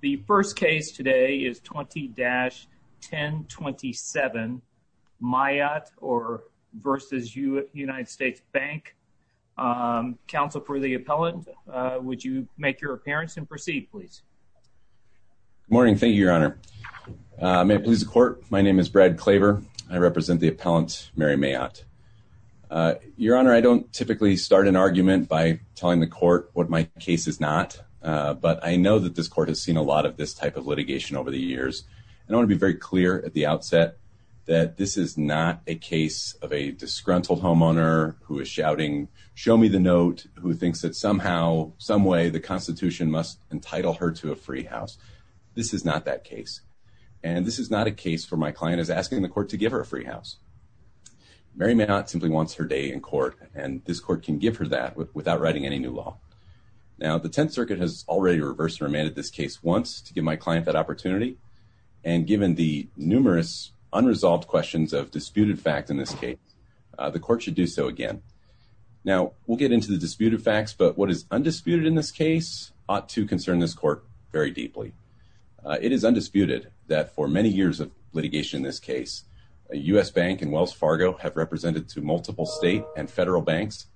The first case today is 20-1027 Mayotte v. U.S. Bank. Counsel for the appellant, would you make your appearance and proceed please. Good morning, thank you, your honor. May it please the court, my name is Brad Klaver. I represent the appellant Mary Mayotte. Your honor, I don't typically start an argument by telling the court what my case is not, but I know that this court has seen a lot of this type of litigation over the years, and I want to be very clear at the outset that this is not a case of a disgruntled homeowner who is shouting, show me the note, who thinks that somehow, some way, the constitution must entitle her to a free house. This is not that case, and this is not a case for my client is asking the court to give her a free house. Mary Mayotte simply wants her day in court, and this court can give her that without writing any new law. Now, the Tenth Circuit has already reversed and remanded this case once to give my client that opportunity, and given the numerous unresolved questions of disputed fact in this case, the court should do so again. Now, we'll get into the disputed facts, but what is undisputed in this case ought to concern this court very deeply. It is undisputed that for many years of litigation in this case, U.S. Bank and Wells State and federal banks,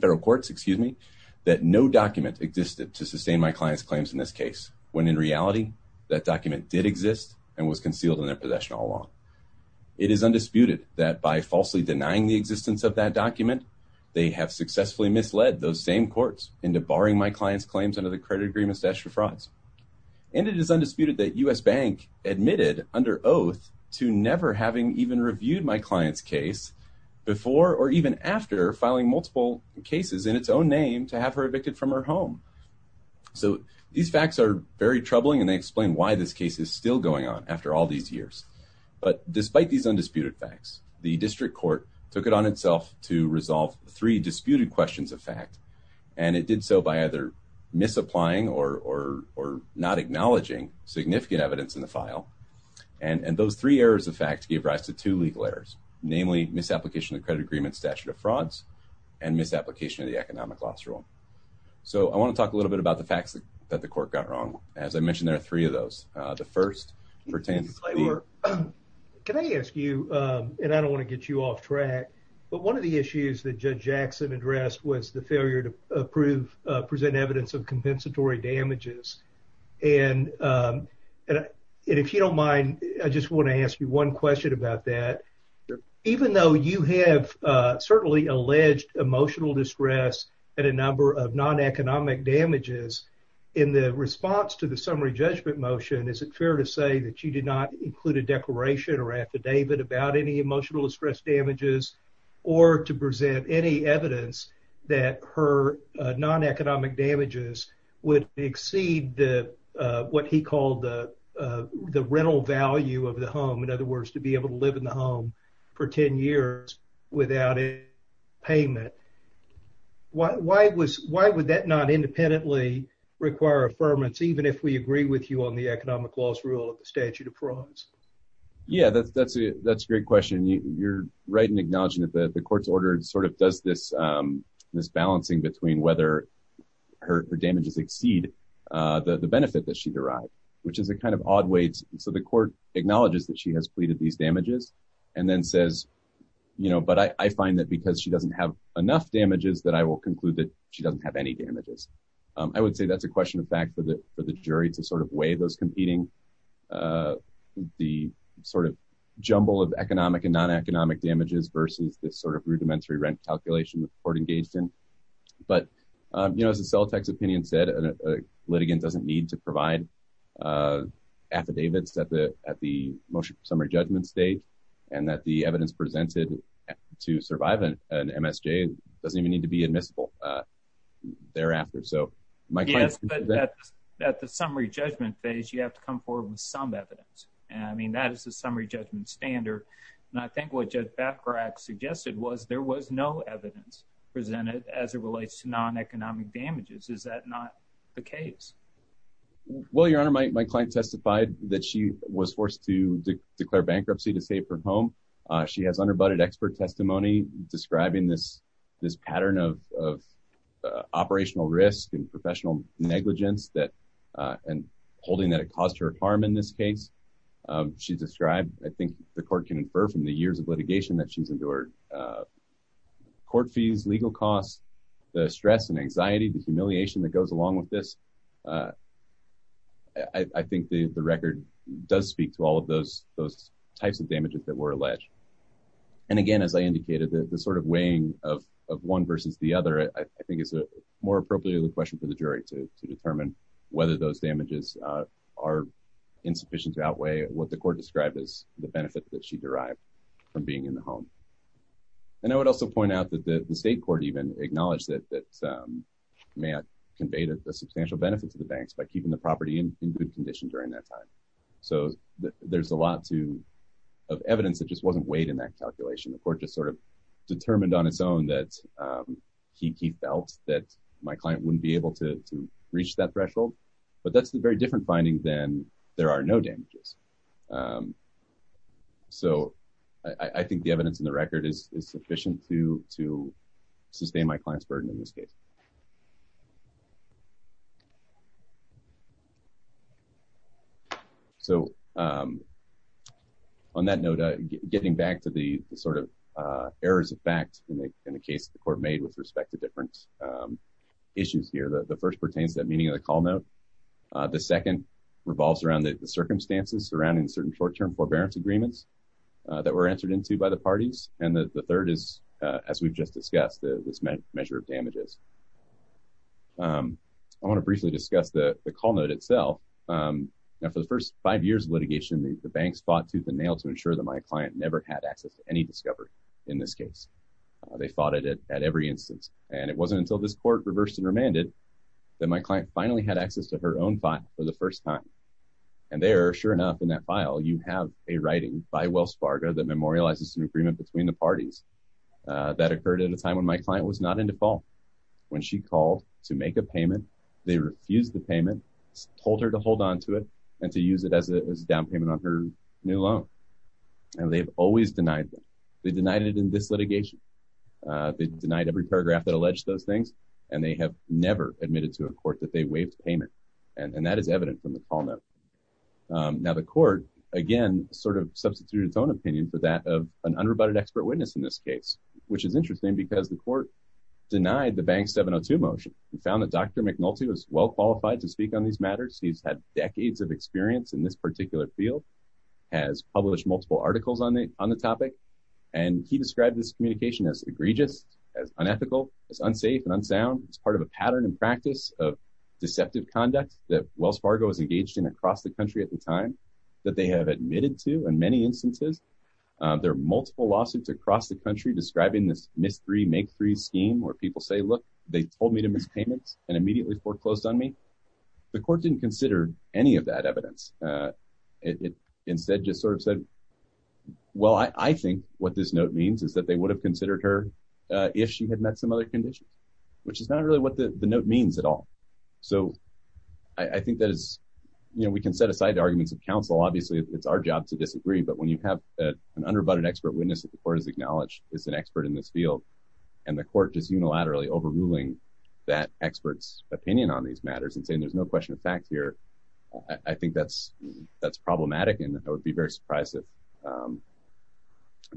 federal courts, excuse me, that no document existed to sustain my client's claims in this case, when in reality, that document did exist and was concealed in their possession all along. It is undisputed that by falsely denying the existence of that document, they have successfully misled those same courts into barring my client's claims under the credit agreement stashed for frauds, and it is undisputed that U.S. Bank admitted under oath to never having even reviewed my client's case before or even after filing multiple cases in its own name to have her evicted from her home. So, these facts are very troubling, and they explain why this case is still going on after all these years. But despite these undisputed facts, the district court took it on itself to resolve three disputed questions of fact, and it did so by either misapplying or not acknowledging significant evidence in the file, and those three errors of fact gave rise to two legal errors, namely, misapplication of credit agreement statute of frauds and misapplication of the economic loss rule. So, I want to talk a little bit about the facts that the court got wrong. As I mentioned, there are three of those. The first pertains... Can I ask you, and I don't want to get you off track, but one of the issues that Judge Jackson addressed was the failure to approve, present evidence of compensatory damages, and if you don't mind, I just want to ask you one question about that. Even though you have certainly alleged emotional distress and a number of non-economic damages, in the response to the summary judgment motion, is it fair to say that you did not include a declaration or affidavit about any emotional distress damages or to present any evidence that her non-economic damages would exceed what he called the rental value of the home, in other words, to be able to live in the home for 10 years without a payment? Why would that not independently require affirmance, even if we agree with you on the economic loss rule of the statute of frauds? Yeah, that's a great question. You're right in acknowledging that the court's order does this balancing between whether her damages exceed the benefit that she derived, which is a kind of odd way. The court acknowledges that she has pleaded these damages and then says, but I find that because she doesn't have enough damages that I will conclude that she doesn't have any damages. I would say that's a question of fact for the jury to weigh those competing the jumble of economic and non-economic damages versus this rudimentary rent calculation the court engaged in. But, you know, as the Celtec's opinion said, a litigant doesn't need to provide affidavits at the motion summary judgment stage and that the evidence presented to survive an MSJ doesn't even need to be admissible thereafter. So my point is that at the summary judgment phase, you have to come forward with some evidence. I mean, that is the suggested was there was no evidence presented as it relates to non-economic damages. Is that not the case? Well, your honor, my client testified that she was forced to declare bankruptcy to save her home. She has under butted expert testimony describing this, this pattern of operational risk and professional negligence that and holding that it caused her harm in this case. She described, I think the court can infer from the years of litigation that she's endured court fees, legal costs, the stress and anxiety, the humiliation that goes along with this. I think the record does speak to all of those types of damages that were alleged. And again, as I indicated, the sort of weighing of one versus the other, I think is more appropriately the question for the jury to determine whether those damages are insufficient to outweigh what the court described as the benefit that she derived from being in the home. And I would also point out that the state court even acknowledged that that may have conveyed a substantial benefit to the banks by keeping the property in good condition during that time. So there's a lot of evidence that just wasn't weighed in that calculation. The court just sort of determined on its own that he felt that my client wouldn't be able to So I think the evidence in the record is sufficient to sustain my client's burden in this case. So on that note, getting back to the sort of errors of fact in the case the court made with respect to different issues here, the first pertains to the meaning of the call note. The second revolves around the circumstances surrounding certain short-term forbearance agreements that were entered into by the parties. And the third is, as we've just discussed, this measure of damages. I want to briefly discuss the call note itself. Now, for the first five years of litigation, the banks fought tooth and nail to ensure that my client never had access to any discovery in this case. They fought it at every instance. And it wasn't until this court reversed and remanded that my client finally had access to her own file for the first time. And there, sure enough, in that file, you have a writing by Wells Fargo that memorializes an agreement between the parties. That occurred at a time when my client was not in default. When she called to make a payment, they refused the payment, told her to hold on to it and to use it as a down payment on her new loan. And they've always denied them. They denied it in this have never admitted to a court that they waived payment. And that is evident from the call note. Now, the court, again, sort of substituted its own opinion for that of an unrebutted expert witness in this case, which is interesting because the court denied the bank 702 motion. We found that Dr. McNulty was well qualified to speak on these matters. He's had decades of experience in this particular field, has published multiple articles on the topic. And he described this communication as egregious, as unethical, as unsafe and unsound. It's part of a pattern and practice of deceptive conduct that Wells Fargo is engaged in across the country at the time that they have admitted to. In many instances, there are multiple lawsuits across the country describing this mystery make three scheme where people say, look, they told me to miss payments and immediately foreclosed on me. The court didn't consider any of that evidence. It instead just sort of said, well, I think what this note means is that they would have considered her if she had met some other conditions, which is not really what the note means at all. So I think that is, you know, we can set aside arguments of counsel. Obviously, it's our job to disagree. But when you have an underbutted expert witness that the court has acknowledged is an expert in this field, and the court is unilaterally overruling that expert's opinion on these matters and saying there's no question of fact here, I think that's problematic. And I would be very surprised if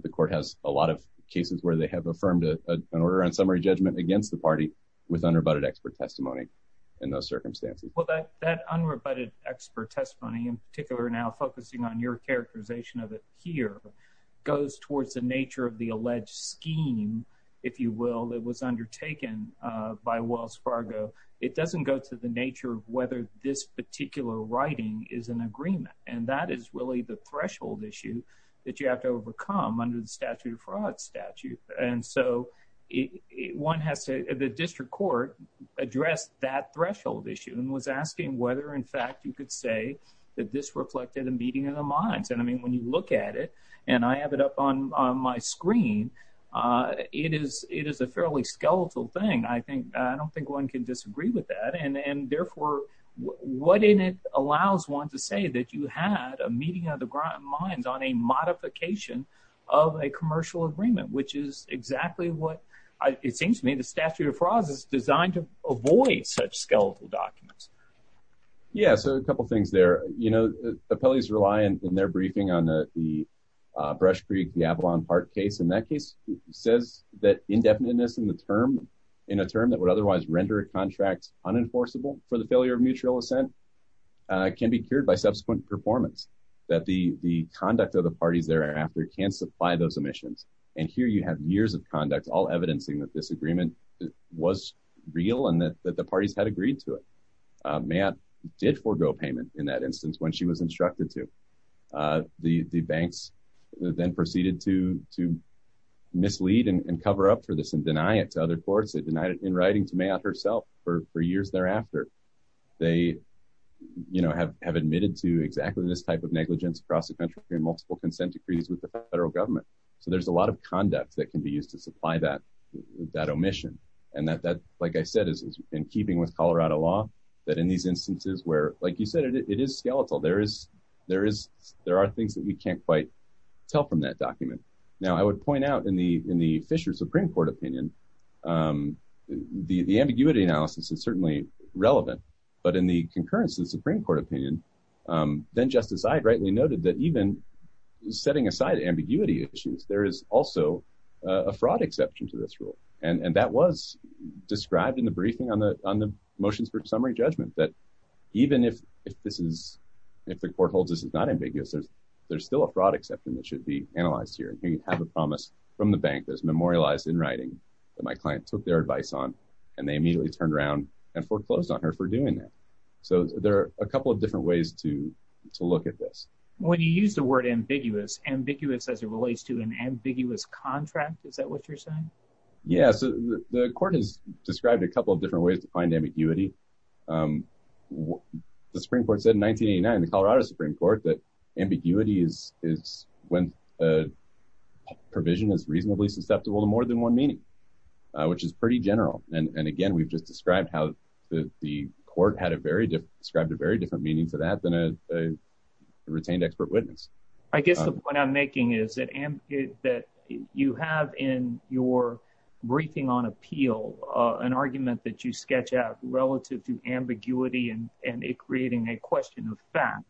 the court has a lot of cases where they have affirmed an order on summary judgment against the party with underbutted expert testimony in those circumstances. Well, that that underbutted expert testimony in particular now focusing on your characterization of it here goes towards the nature of the alleged scheme, if you will, that was undertaken by Wells Fargo. It doesn't go to the nature of whether this particular writing is an agreement. And that is really the threshold issue that you have to overcome under the statute of fraud statute. And so it one has to the district court addressed that threshold issue and was asking whether in fact, you could say that this reflected a meeting of the minds. And I mean, when you look at it, and I have it up on my screen, it is it is a fairly skeletal thing. I think I don't think one can disagree with that. And therefore, what in it allows one to say that you had a meeting of the minds on a modification of a commercial agreement, which is exactly what it seems to me the statute of fraud is designed to avoid such skeletal documents. Yeah, so a couple things there, you know, the police rely on in their briefing on the Brush Creek, the Avalon Park case, in that says that indefiniteness in the term in a term that would otherwise render a contract unenforceable for the failure of mutual assent can be cured by subsequent performance, that the the conduct of the parties thereafter can supply those emissions. And here you have years of conduct all evidencing that this agreement was real and that the parties had agreed to it. Matt did forego payment in that instance, when she was instructed to the banks then proceeded to to mislead and cover up for this and deny it to other courts that denied it in writing to me out herself for four years thereafter. They, you know, have have admitted to exactly this type of negligence across the country and multiple consent decrees with the federal government. So there's a lot of conduct that can be used to supply that, that omission. And that that, like I said, is in keeping with Colorado law, that in these instances where like you said, it is skeletal, there is, there is, there are things that we can't quite tell from that document. Now, I would point out in the in the Fisher Supreme Court opinion, the ambiguity analysis is certainly relevant. But in the concurrence of the Supreme Court opinion, then Justice Ide rightly noted that even setting aside ambiguity issues, there is also a fraud exception to this rule. And that was described in the briefing on the on the motions for summary judgment that even if, if this is, if the court holds this is not ambiguous, there's, there's still a fraud exception that should be analyzed here. And here you have a promise from the bank that's memorialized in writing that my client took their advice on, and they immediately turned around and foreclosed on her for doing that. So there are a couple of different ways to to look at this. When you use the word ambiguous, ambiguous as it relates to an ambiguous contract. Is that what you're saying? Yes, the court has described a couple of different ways to find ambiguity. The Supreme Court said in 1989, the Colorado Supreme Court that ambiguity is is when a provision is reasonably susceptible to more than one meaning, which is pretty general. And again, we've just described how the court had a very different described a very different meaning to that than a retained expert witness. I guess the point I'm making is that and that you have in your briefing on appeal, an argument that you sketch out relative to ambiguity and and it creating a question of fact.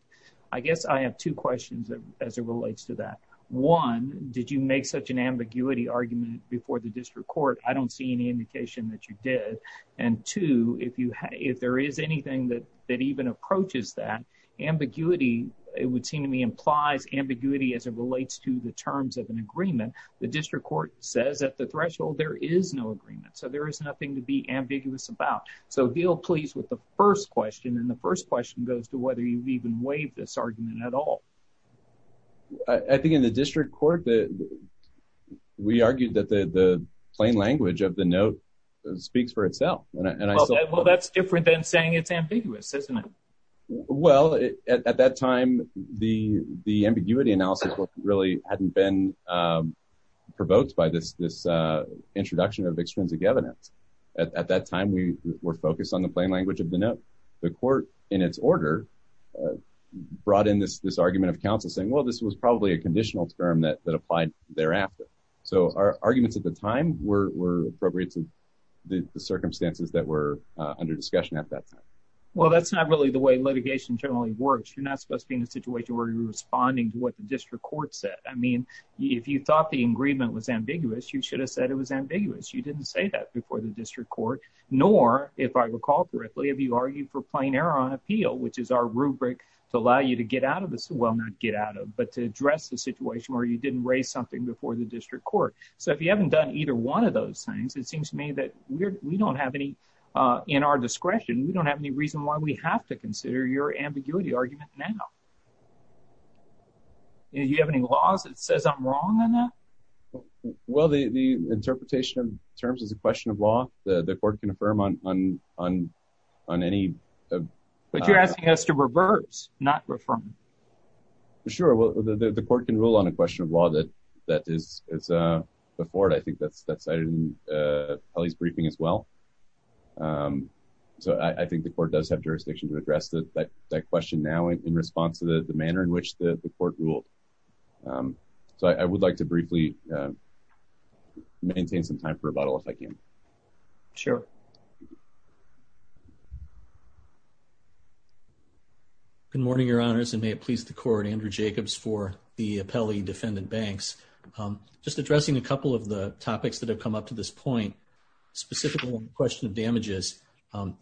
I guess I have two questions as it relates to that. One, did you make such an ambiguity argument before the district court? I don't see any indication that you did. And two, if you have if there is anything that that even approaches that ambiguity, it would seem to me implies ambiguity as it relates to the terms of an agreement. The district court says at the threshold, there is no agreement. So there is nothing to be ambiguous about. So deal please with the first question. And the first question goes to whether you've even waived this argument at all. I think in the district court that we argued that the plain language of the note speaks for itself. Well, that's different than saying it's ambiguous, isn't it? Well, at that time, the the ambiguity analysis really hadn't been provoked by this introduction of extrinsic evidence. At that time, we were focused on the plain language of the note. The court in its order brought in this this argument of counsel saying, well, this was probably a conditional term that that applied thereafter. So our arguments at the time were appropriate to the circumstances that were under discussion at that time. Well, that's not really the way litigation generally works. You're not supposed to be in a situation where you're responding to what the district court said. I mean, if you thought the agreement was ambiguous, you should have said it was ambiguous. You didn't say that before the district court. Nor if I recall correctly, if you argue for plain error on appeal, which is our rubric to allow you to get out of this, well, not get out of, but to address the situation where you didn't raise something before the district court. So if you haven't done either one of those things, it seems to me that we don't have any in our discretion. We don't have any reason why we have to consider your ambiguity argument now. You have any laws that says I'm wrong on that? Well, the interpretation of terms is a question of law. The court can affirm on any. But you're asking us to reverse, not reform. Sure. Well, the court can rule on a question of law that is before it. I think that's cited in the statute. So I think the court does have jurisdiction to address that question now in response to the manner in which the court ruled. So I would like to briefly maintain some time for rebuttal, if I can. Sure. Good morning, your honors, and may it please the court, Andrew Jacobs, for the appellee defendant Banks. Just addressing a couple of the topics that have come up to this point, specifically on the question of damages,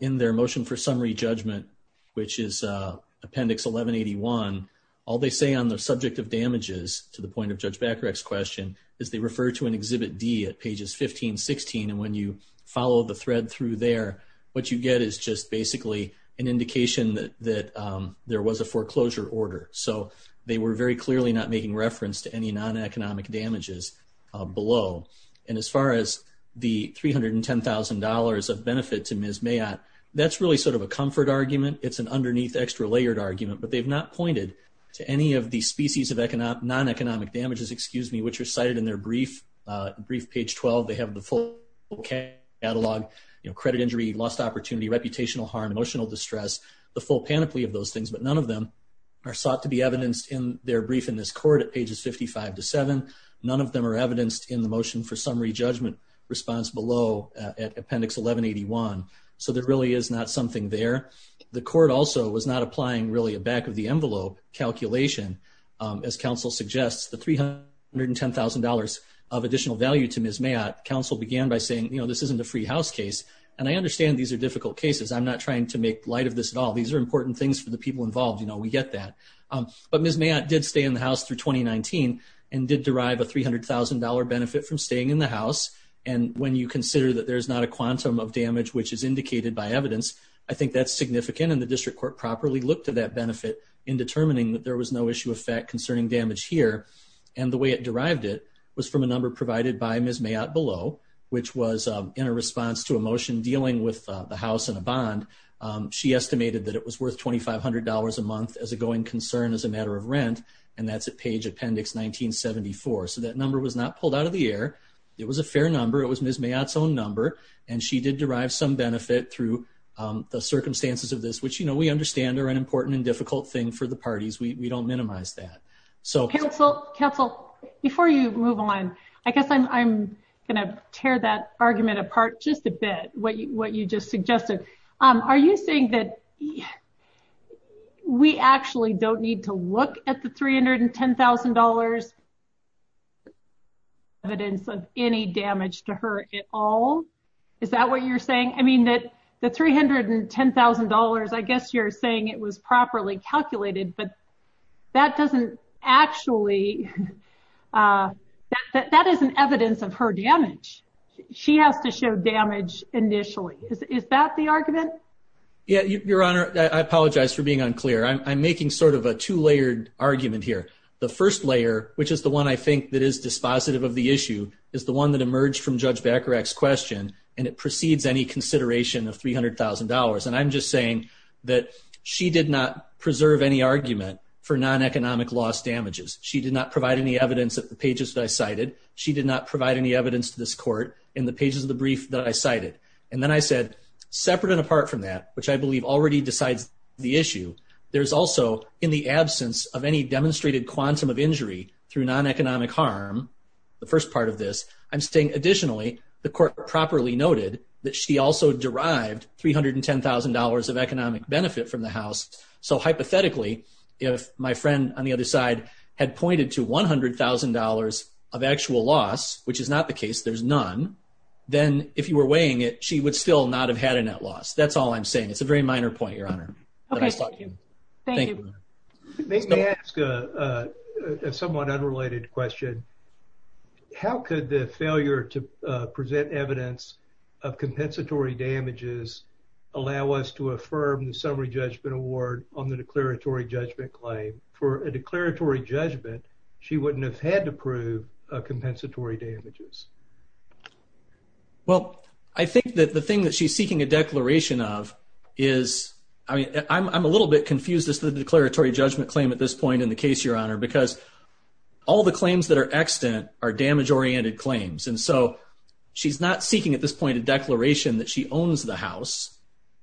in their motion for summary judgment, which is appendix 1181, all they say on the subject of damages, to the point of Judge Bacharach's question, is they refer to an exhibit D at pages 15, 16. And when you follow the thread through there, what you get is just basically an indication that there was a foreclosure order. So they were very clearly not making reference to any non-economic damages below. And as far as the $310,000 of benefit to Ms. Mayotte, that's really sort of a comfort argument. It's an underneath extra layered argument. But they've not pointed to any of the species of non-economic damages, which are cited in their brief, page 12. They have the full catalog, credit injury, lost opportunity, reputational harm, emotional distress, the full panoply of those things. But none of them are sought to be evidenced in their brief in this response below at appendix 1181. So there really is not something there. The court also was not applying really a back of the envelope calculation. As counsel suggests, the $310,000 of additional value to Ms. Mayotte, counsel began by saying, you know, this isn't a free house case. And I understand these are difficult cases. I'm not trying to make light of this at all. These are important things for the people involved. You know, we get that. But Ms. Mayotte did stay in through 2019 and did derive a $300,000 benefit from staying in the house. And when you consider that there's not a quantum of damage, which is indicated by evidence, I think that's significant. And the district court properly looked at that benefit in determining that there was no issue effect concerning damage here. And the way it derived it was from a number provided by Ms. Mayotte below, which was in a response to a motion dealing with the house and a bond. She estimated that it was worth $2,500 a month as a going concern as a matter of rent. And that's a page appendix 1974. So that number was not pulled out of the air. It was a fair number. It was Ms. Mayotte's own number. And she did derive some benefit through the circumstances of this, which, you know, we understand are an important and difficult thing for the parties. We don't minimize that. So counsel, before you move on, I guess I'm going to tear that argument apart just a bit. What you just suggested. Are you saying that we actually don't need to look at the $310,000 evidence of any damage to her at all? Is that what you're saying? I mean, that the $310,000, I guess you're saying it was properly calculated, but that doesn't actually, that isn't evidence of her damage. She has to show damage initially. Is that the argument? Yeah, Your Honor, I apologize for being unclear. I'm making sort of a two layered argument here. The first layer, which is the one I think that is dispositive of the issue is the one that emerged from Judge Bacharach's question. And it precedes any consideration of $300,000. And I'm just saying that she did not preserve any argument for non-economic loss damages. She did not provide any evidence at the pages that I cited. She did not provide any evidence to this court in the pages of the brief that I cited. And then I said, separate and apart from that, which I believe already decides the issue, there's also in the absence of any demonstrated quantum of injury through non-economic harm, the first part of this, I'm saying additionally, the court properly noted that she also derived $310,000 of economic benefit from the house. So hypothetically, if my friend on the other side had pointed to $100,000 of actual loss, which is not the case, there's none, then if you were weighing it, she would still not have had a net loss. That's all I'm saying. It's a very minor point, Your Honor. Thank you. May I ask a somewhat unrelated question? How could the failure to present evidence of compensatory damages allow us to affirm the summary judgment award on the declaratory judgment claim? For a declaratory judgment, she wouldn't have had to prove compensatory damages. Well, I think that the thing that she's seeking a declaration of is, I mean, I'm a little bit confused as to the declaratory judgment claim at this point in the case, Your Honor, because all the claims that are extant are damage-oriented claims. And so she's not seeking at this point a declaration that she owns the house.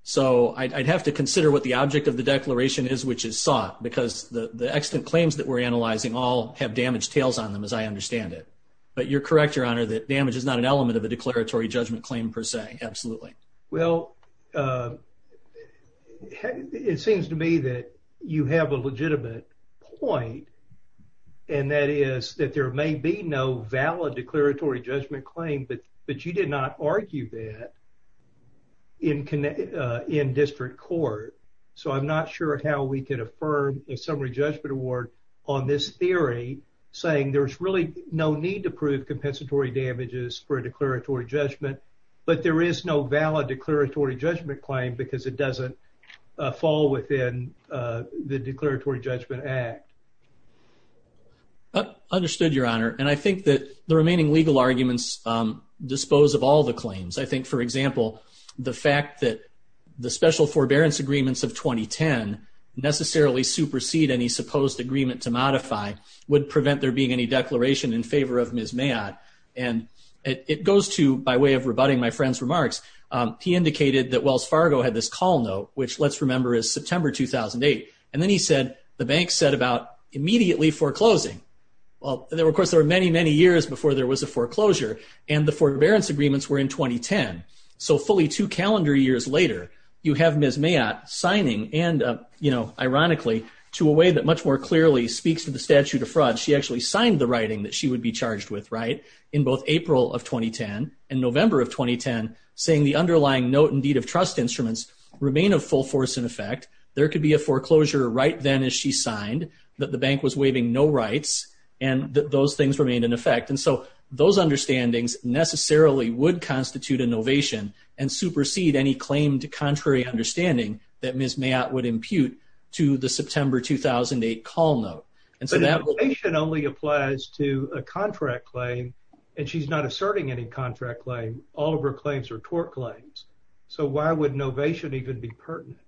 So I'd have to consider what the object of the declaration is which is sought, because the extant claims that we're analyzing all have damaged tails on them as I understand it. But you're correct, Your Honor, that damage is not an element of a declaratory judgment claim per se, absolutely. Well, it seems to me that you have a legitimate point, and that is that there may be no valid declaratory judgment claim, but you did not argue that in district court. So I'm not sure how we can affirm a summary judgment award on this theory saying there's really no need to prove compensatory damages for a declaratory judgment, but there is no valid declaratory judgment claim because it doesn't fall within the declaratory judgment act. Understood, Your Honor. And I think that the remaining legal arguments dispose of all the claims. I think, for example, the fact that the special forbearance agreements of 2010 necessarily supersede any supposed agreement to modify would prevent there being any declaration in favor of Ms. Mayotte. And it goes to, by way of rebutting my friend's remarks, he indicated that Wells Fargo had this call note, which let's remember is September 2008, and then he said the bank set about immediately foreclosing. Well, there was a foreclosure, and the forbearance agreements were in 2010. So fully two calendar years later, you have Ms. Mayotte signing, and ironically, to a way that much more clearly speaks to the statute of fraud, she actually signed the writing that she would be charged with in both April of 2010 and November of 2010, saying the underlying note and deed of trust instruments remain of full force in effect. There could be a foreclosure right then as she signed, that the bank was waiving no rights, and that those things remained in effect. And so those understandings necessarily would constitute a novation and supersede any claim to contrary understanding that Ms. Mayotte would impute to the September 2008 call note. And so that- But novation only applies to a contract claim, and she's not asserting any contract claim. All of her claims are tort claims. So why would novation even be pertinent?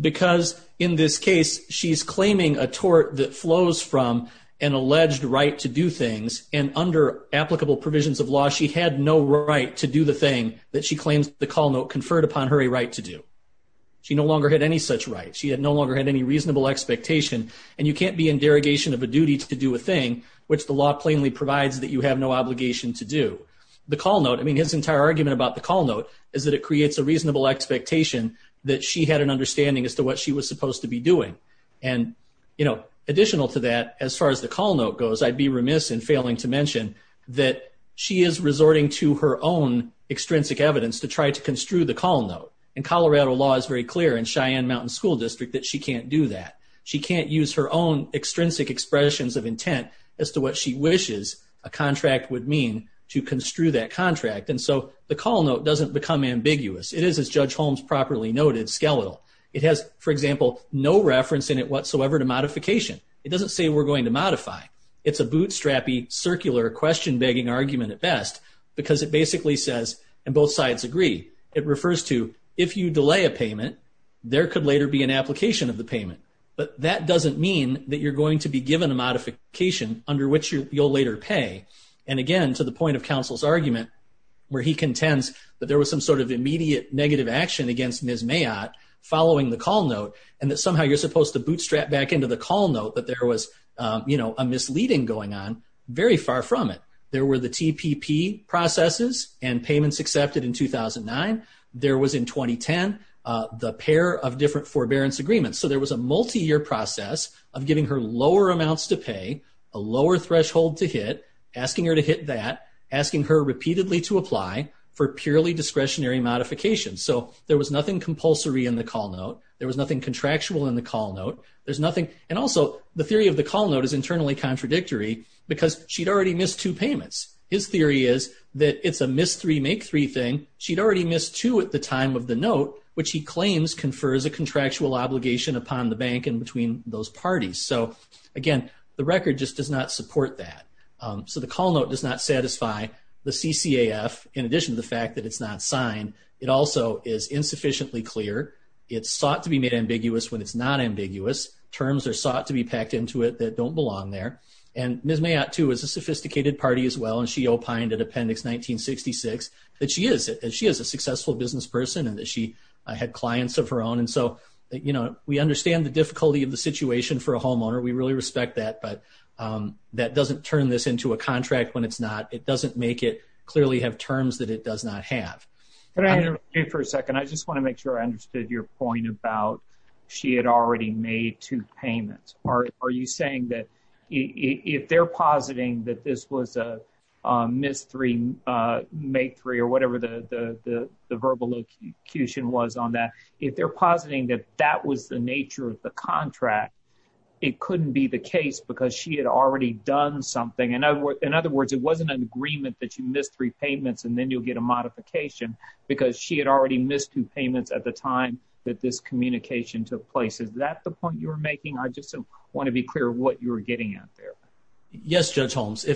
Because in this case, she's claiming a tort that flows from an alleged right to do things, and under applicable provisions of law, she had no right to do the thing that she claims the call note conferred upon her a right to do. She no longer had any such right. She had no longer had any reasonable expectation, and you can't be in derogation of a duty to do a thing which the law plainly provides that you have no obligation to do. The call note, I mean, his entire argument about the call note is that it creates a reasonable expectation that she had an understanding as to what she was supposed to be doing. And, you know, additional to that, as far as the call note goes, I'd be remiss in failing to mention that she is resorting to her own extrinsic evidence to try to construe the call note. And Colorado law is very clear in Cheyenne Mountain School District that she can't do that. She can't use her own extrinsic expressions of intent as to what she wishes a contract would mean to construe that contract. And so the call note doesn't become ambiguous. It is, as Judge Holmes properly noted, skeletal. It has, for example, no reference in it whatsoever to modification. It doesn't say we're going to modify. It's a bootstrappy, circular, question-begging argument at best because it basically says, and both sides agree, it refers to if you delay a payment, there could later be an application of the payment. But that doesn't mean that you're going to be given a modification under which you'll later pay. And again, to the point of counsel's argument, where he contends that there was some sort of immediate negative action against Ms. Mayotte following the call note, and that somehow you're supposed to bootstrap back into the call note that there was, you know, a misleading going on, very far from it. There were the TPP processes and payments accepted in 2009. There was, in 2010, the pair of different forbearance agreements. So there was a multi-year process of giving her lower amounts to pay, a lower threshold to hit, asking her to hit that, asking her repeatedly to apply for purely discretionary modifications. So there was nothing compulsory in the call note. There was nothing contractual in the call note. There's nothing, and also the theory of the call note is internally contradictory because she'd already missed two payments. His theory is that it's a miss three, make three thing. She'd already missed two at the time of the note, which he claims confers a contractual obligation upon the bank and between those parties. So again, the record just does not support that. So the call note does not satisfy the CCAF, in addition to the fact that it's not signed. It also is insufficiently clear. It's sought to be made ambiguous when it's not ambiguous. Terms are sought to be packed into it that don't belong there, and Ms. Mayotte, too, is a sophisticated party as well, and she opined at Appendix 1966 that she is a successful business person and that she had clients of her own. And so, you know, we understand the difficulty of the situation for a homeowner. We really respect that, but that doesn't turn this into a contract when it's not. It doesn't make it clearly have terms that it does not have. Can I interrupt you for a second? I just want to make sure I understood your point about she had already made two payments. Are you saying that if they're positing that this was a mis-three, made three, or whatever the verbal accusation was on that, if they're positing that that was the nature of the contract, it couldn't be the case because she had already done something. In other words, it wasn't an agreement that you missed three payments and then you'll get a modification because she had already missed two payments at the time that this communication took place. Is that the point you're making? I just want to be clear what you're getting at there. Yes, Judge Holmes.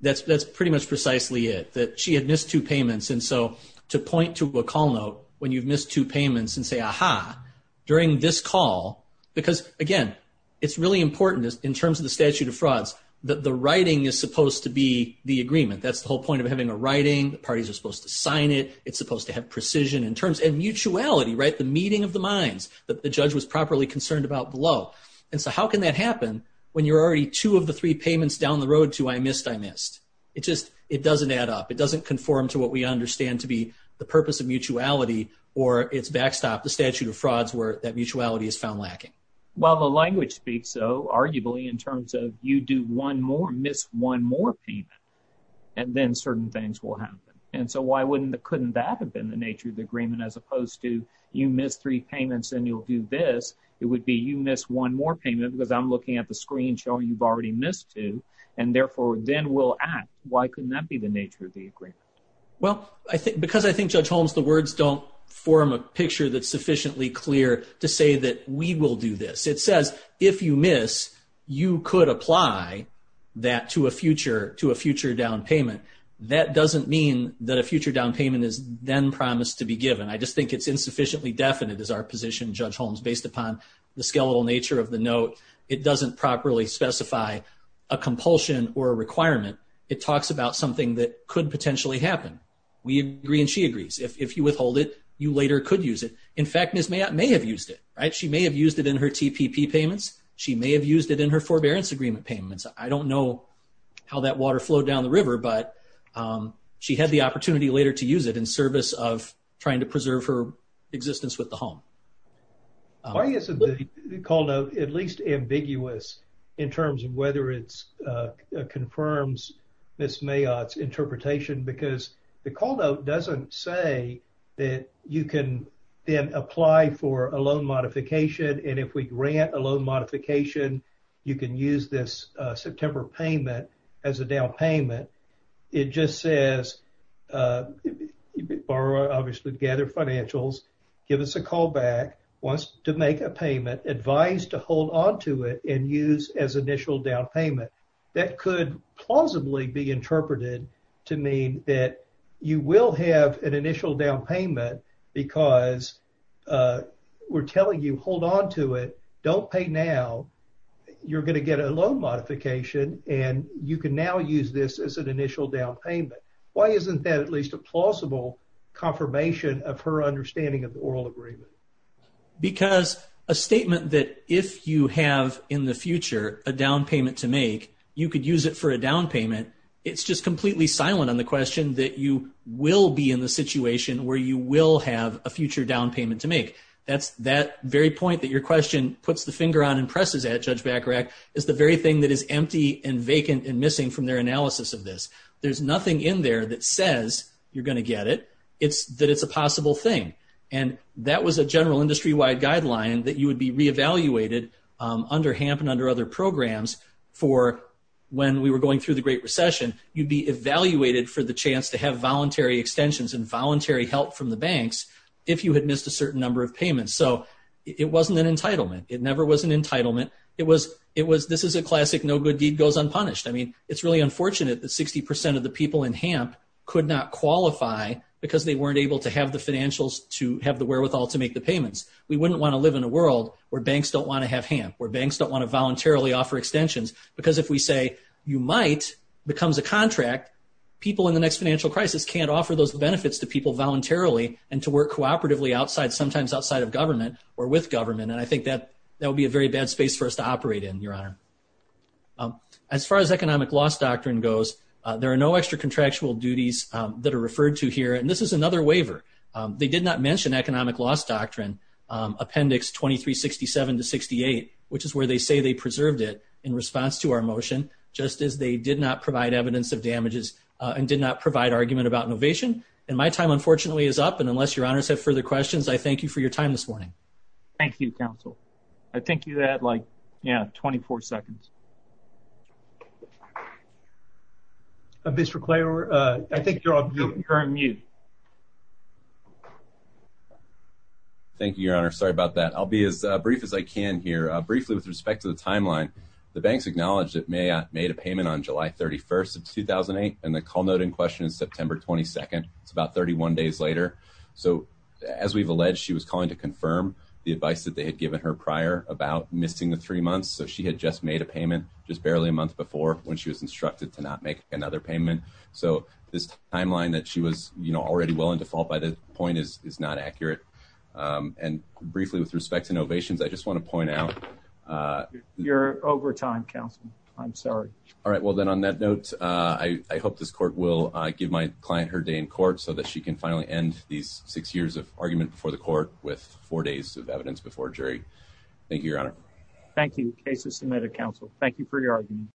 That's pretty much precisely it, that she had missed two payments. And so, to point to a call note when you've missed two payments and say, aha, during this call, because again, it's really important in terms of the statute of frauds that the writing is supposed to be the agreement. That's the whole point of having a writing. The parties are supposed to sign it. It's supposed to have precision in terms and mutuality, right? The meeting of the minds that the judge was properly concerned about below. And so, how can that happen when you're already two of the three payments down the road to I missed, I missed? It just, it doesn't add up. It doesn't conform to what we understand to be the purpose of mutuality or it's backstopped. The statute of frauds where that mutuality is found lacking. Well, the language speaks so arguably in terms of you do one more, miss one more payment, and then certain things will happen. And so, why wouldn't, couldn't that have been the nature of the agreement as opposed to you missed three payments and you'll do this? It would be you one more payment because I'm looking at the screen showing you've already missed two. And therefore, then we'll act. Why couldn't that be the nature of the agreement? Well, I think because I think Judge Holmes, the words don't form a picture that's sufficiently clear to say that we will do this. It says, if you miss, you could apply that to a future, to a future down payment. That doesn't mean that a future down payment is then promised to be given. I just think it's insufficiently definite as our position, Judge Holmes, based upon the skeletal nature of the note, it doesn't properly specify a compulsion or a requirement. It talks about something that could potentially happen. We agree and she agrees. If you withhold it, you later could use it. In fact, Ms. Mayotte may have used it, right? She may have used it in her TPP payments. She may have used it in her forbearance agreement payments. I don't know how that water flowed down the river, but she had the opportunity later to use it in service of the call note, at least ambiguous in terms of whether it confirms Ms. Mayotte's interpretation, because the call note doesn't say that you can then apply for a loan modification. And if we grant a loan modification, you can use this September payment as a down payment. It just says, you borrow, obviously gather financials, give us a call back, wants to make a payment, advised to hold onto it and use as initial down payment. That could plausibly be interpreted to mean that you will have an initial down payment because we're telling you, hold onto it, don't pay now. You're going to get a loan modification and you can now use this as an plausible confirmation of her understanding of the oral agreement. Because a statement that if you have in the future, a down payment to make, you could use it for a down payment. It's just completely silent on the question that you will be in the situation where you will have a future down payment to make. That's that very point that your question puts the finger on and presses at Judge Bacharach is the very thing that is empty and vacant and you're going to get it. It's that it's a possible thing. And that was a general industry-wide guideline that you would be re-evaluated under HAMP and under other programs for when we were going through the Great Recession, you'd be evaluated for the chance to have voluntary extensions and voluntary help from the banks if you had missed a certain number of payments. So it wasn't an entitlement. It never was an entitlement. This is a classic, no good deed goes unpunished. It's really unfortunate that 60% of the people in HAMP could not qualify because they weren't able to have the financials to have the wherewithal to make the payments. We wouldn't want to live in a world where banks don't want to have HAMP, where banks don't want to voluntarily offer extensions. Because if we say, you might, becomes a contract, people in the next financial crisis can't offer those benefits to people voluntarily and to work cooperatively outside, sometimes outside of government or with government. And I think that that would be a very bad space for us to operate in, Your Honor. As far as economic loss doctrine goes, there are no extra contractual duties that are referred to here. And this is another waiver. They did not mention economic loss doctrine, Appendix 2367 to 68, which is where they say they preserved it in response to our motion, just as they did not provide evidence of damages and did not provide argument about innovation. And my time, unfortunately, is up. And unless Your Honors have further questions, I thank you for your time this morning. Thank you, Counsel. I think you had, like, yeah, 24 seconds. Mr. Klaver, I think you're on mute. Thank you, Your Honor. Sorry about that. I'll be as brief as I can here. Briefly, with respect to the timeline, the banks acknowledged that Mayotte made a payment on July 31st of 2008, and the call note in question is September 22nd. It's about 31 days later. So as we've alleged, she was calling to confirm the advice that they had given her prior about missing the three months. So she had just made a payment just barely a month before when she was instructed to not make another payment. So this timeline that she was, you know, already well in default by the point is not accurate. And briefly, with respect to innovations, I just want to point out... You're over time, Counsel. I'm sorry. All right. Well, then on that note, I hope this court will give my client her day in court so she can finally end these six years of argument before the court with four days of evidence before jury. Thank you, Your Honor. Thank you. Case is submitted, Counsel. Thank you for your argument.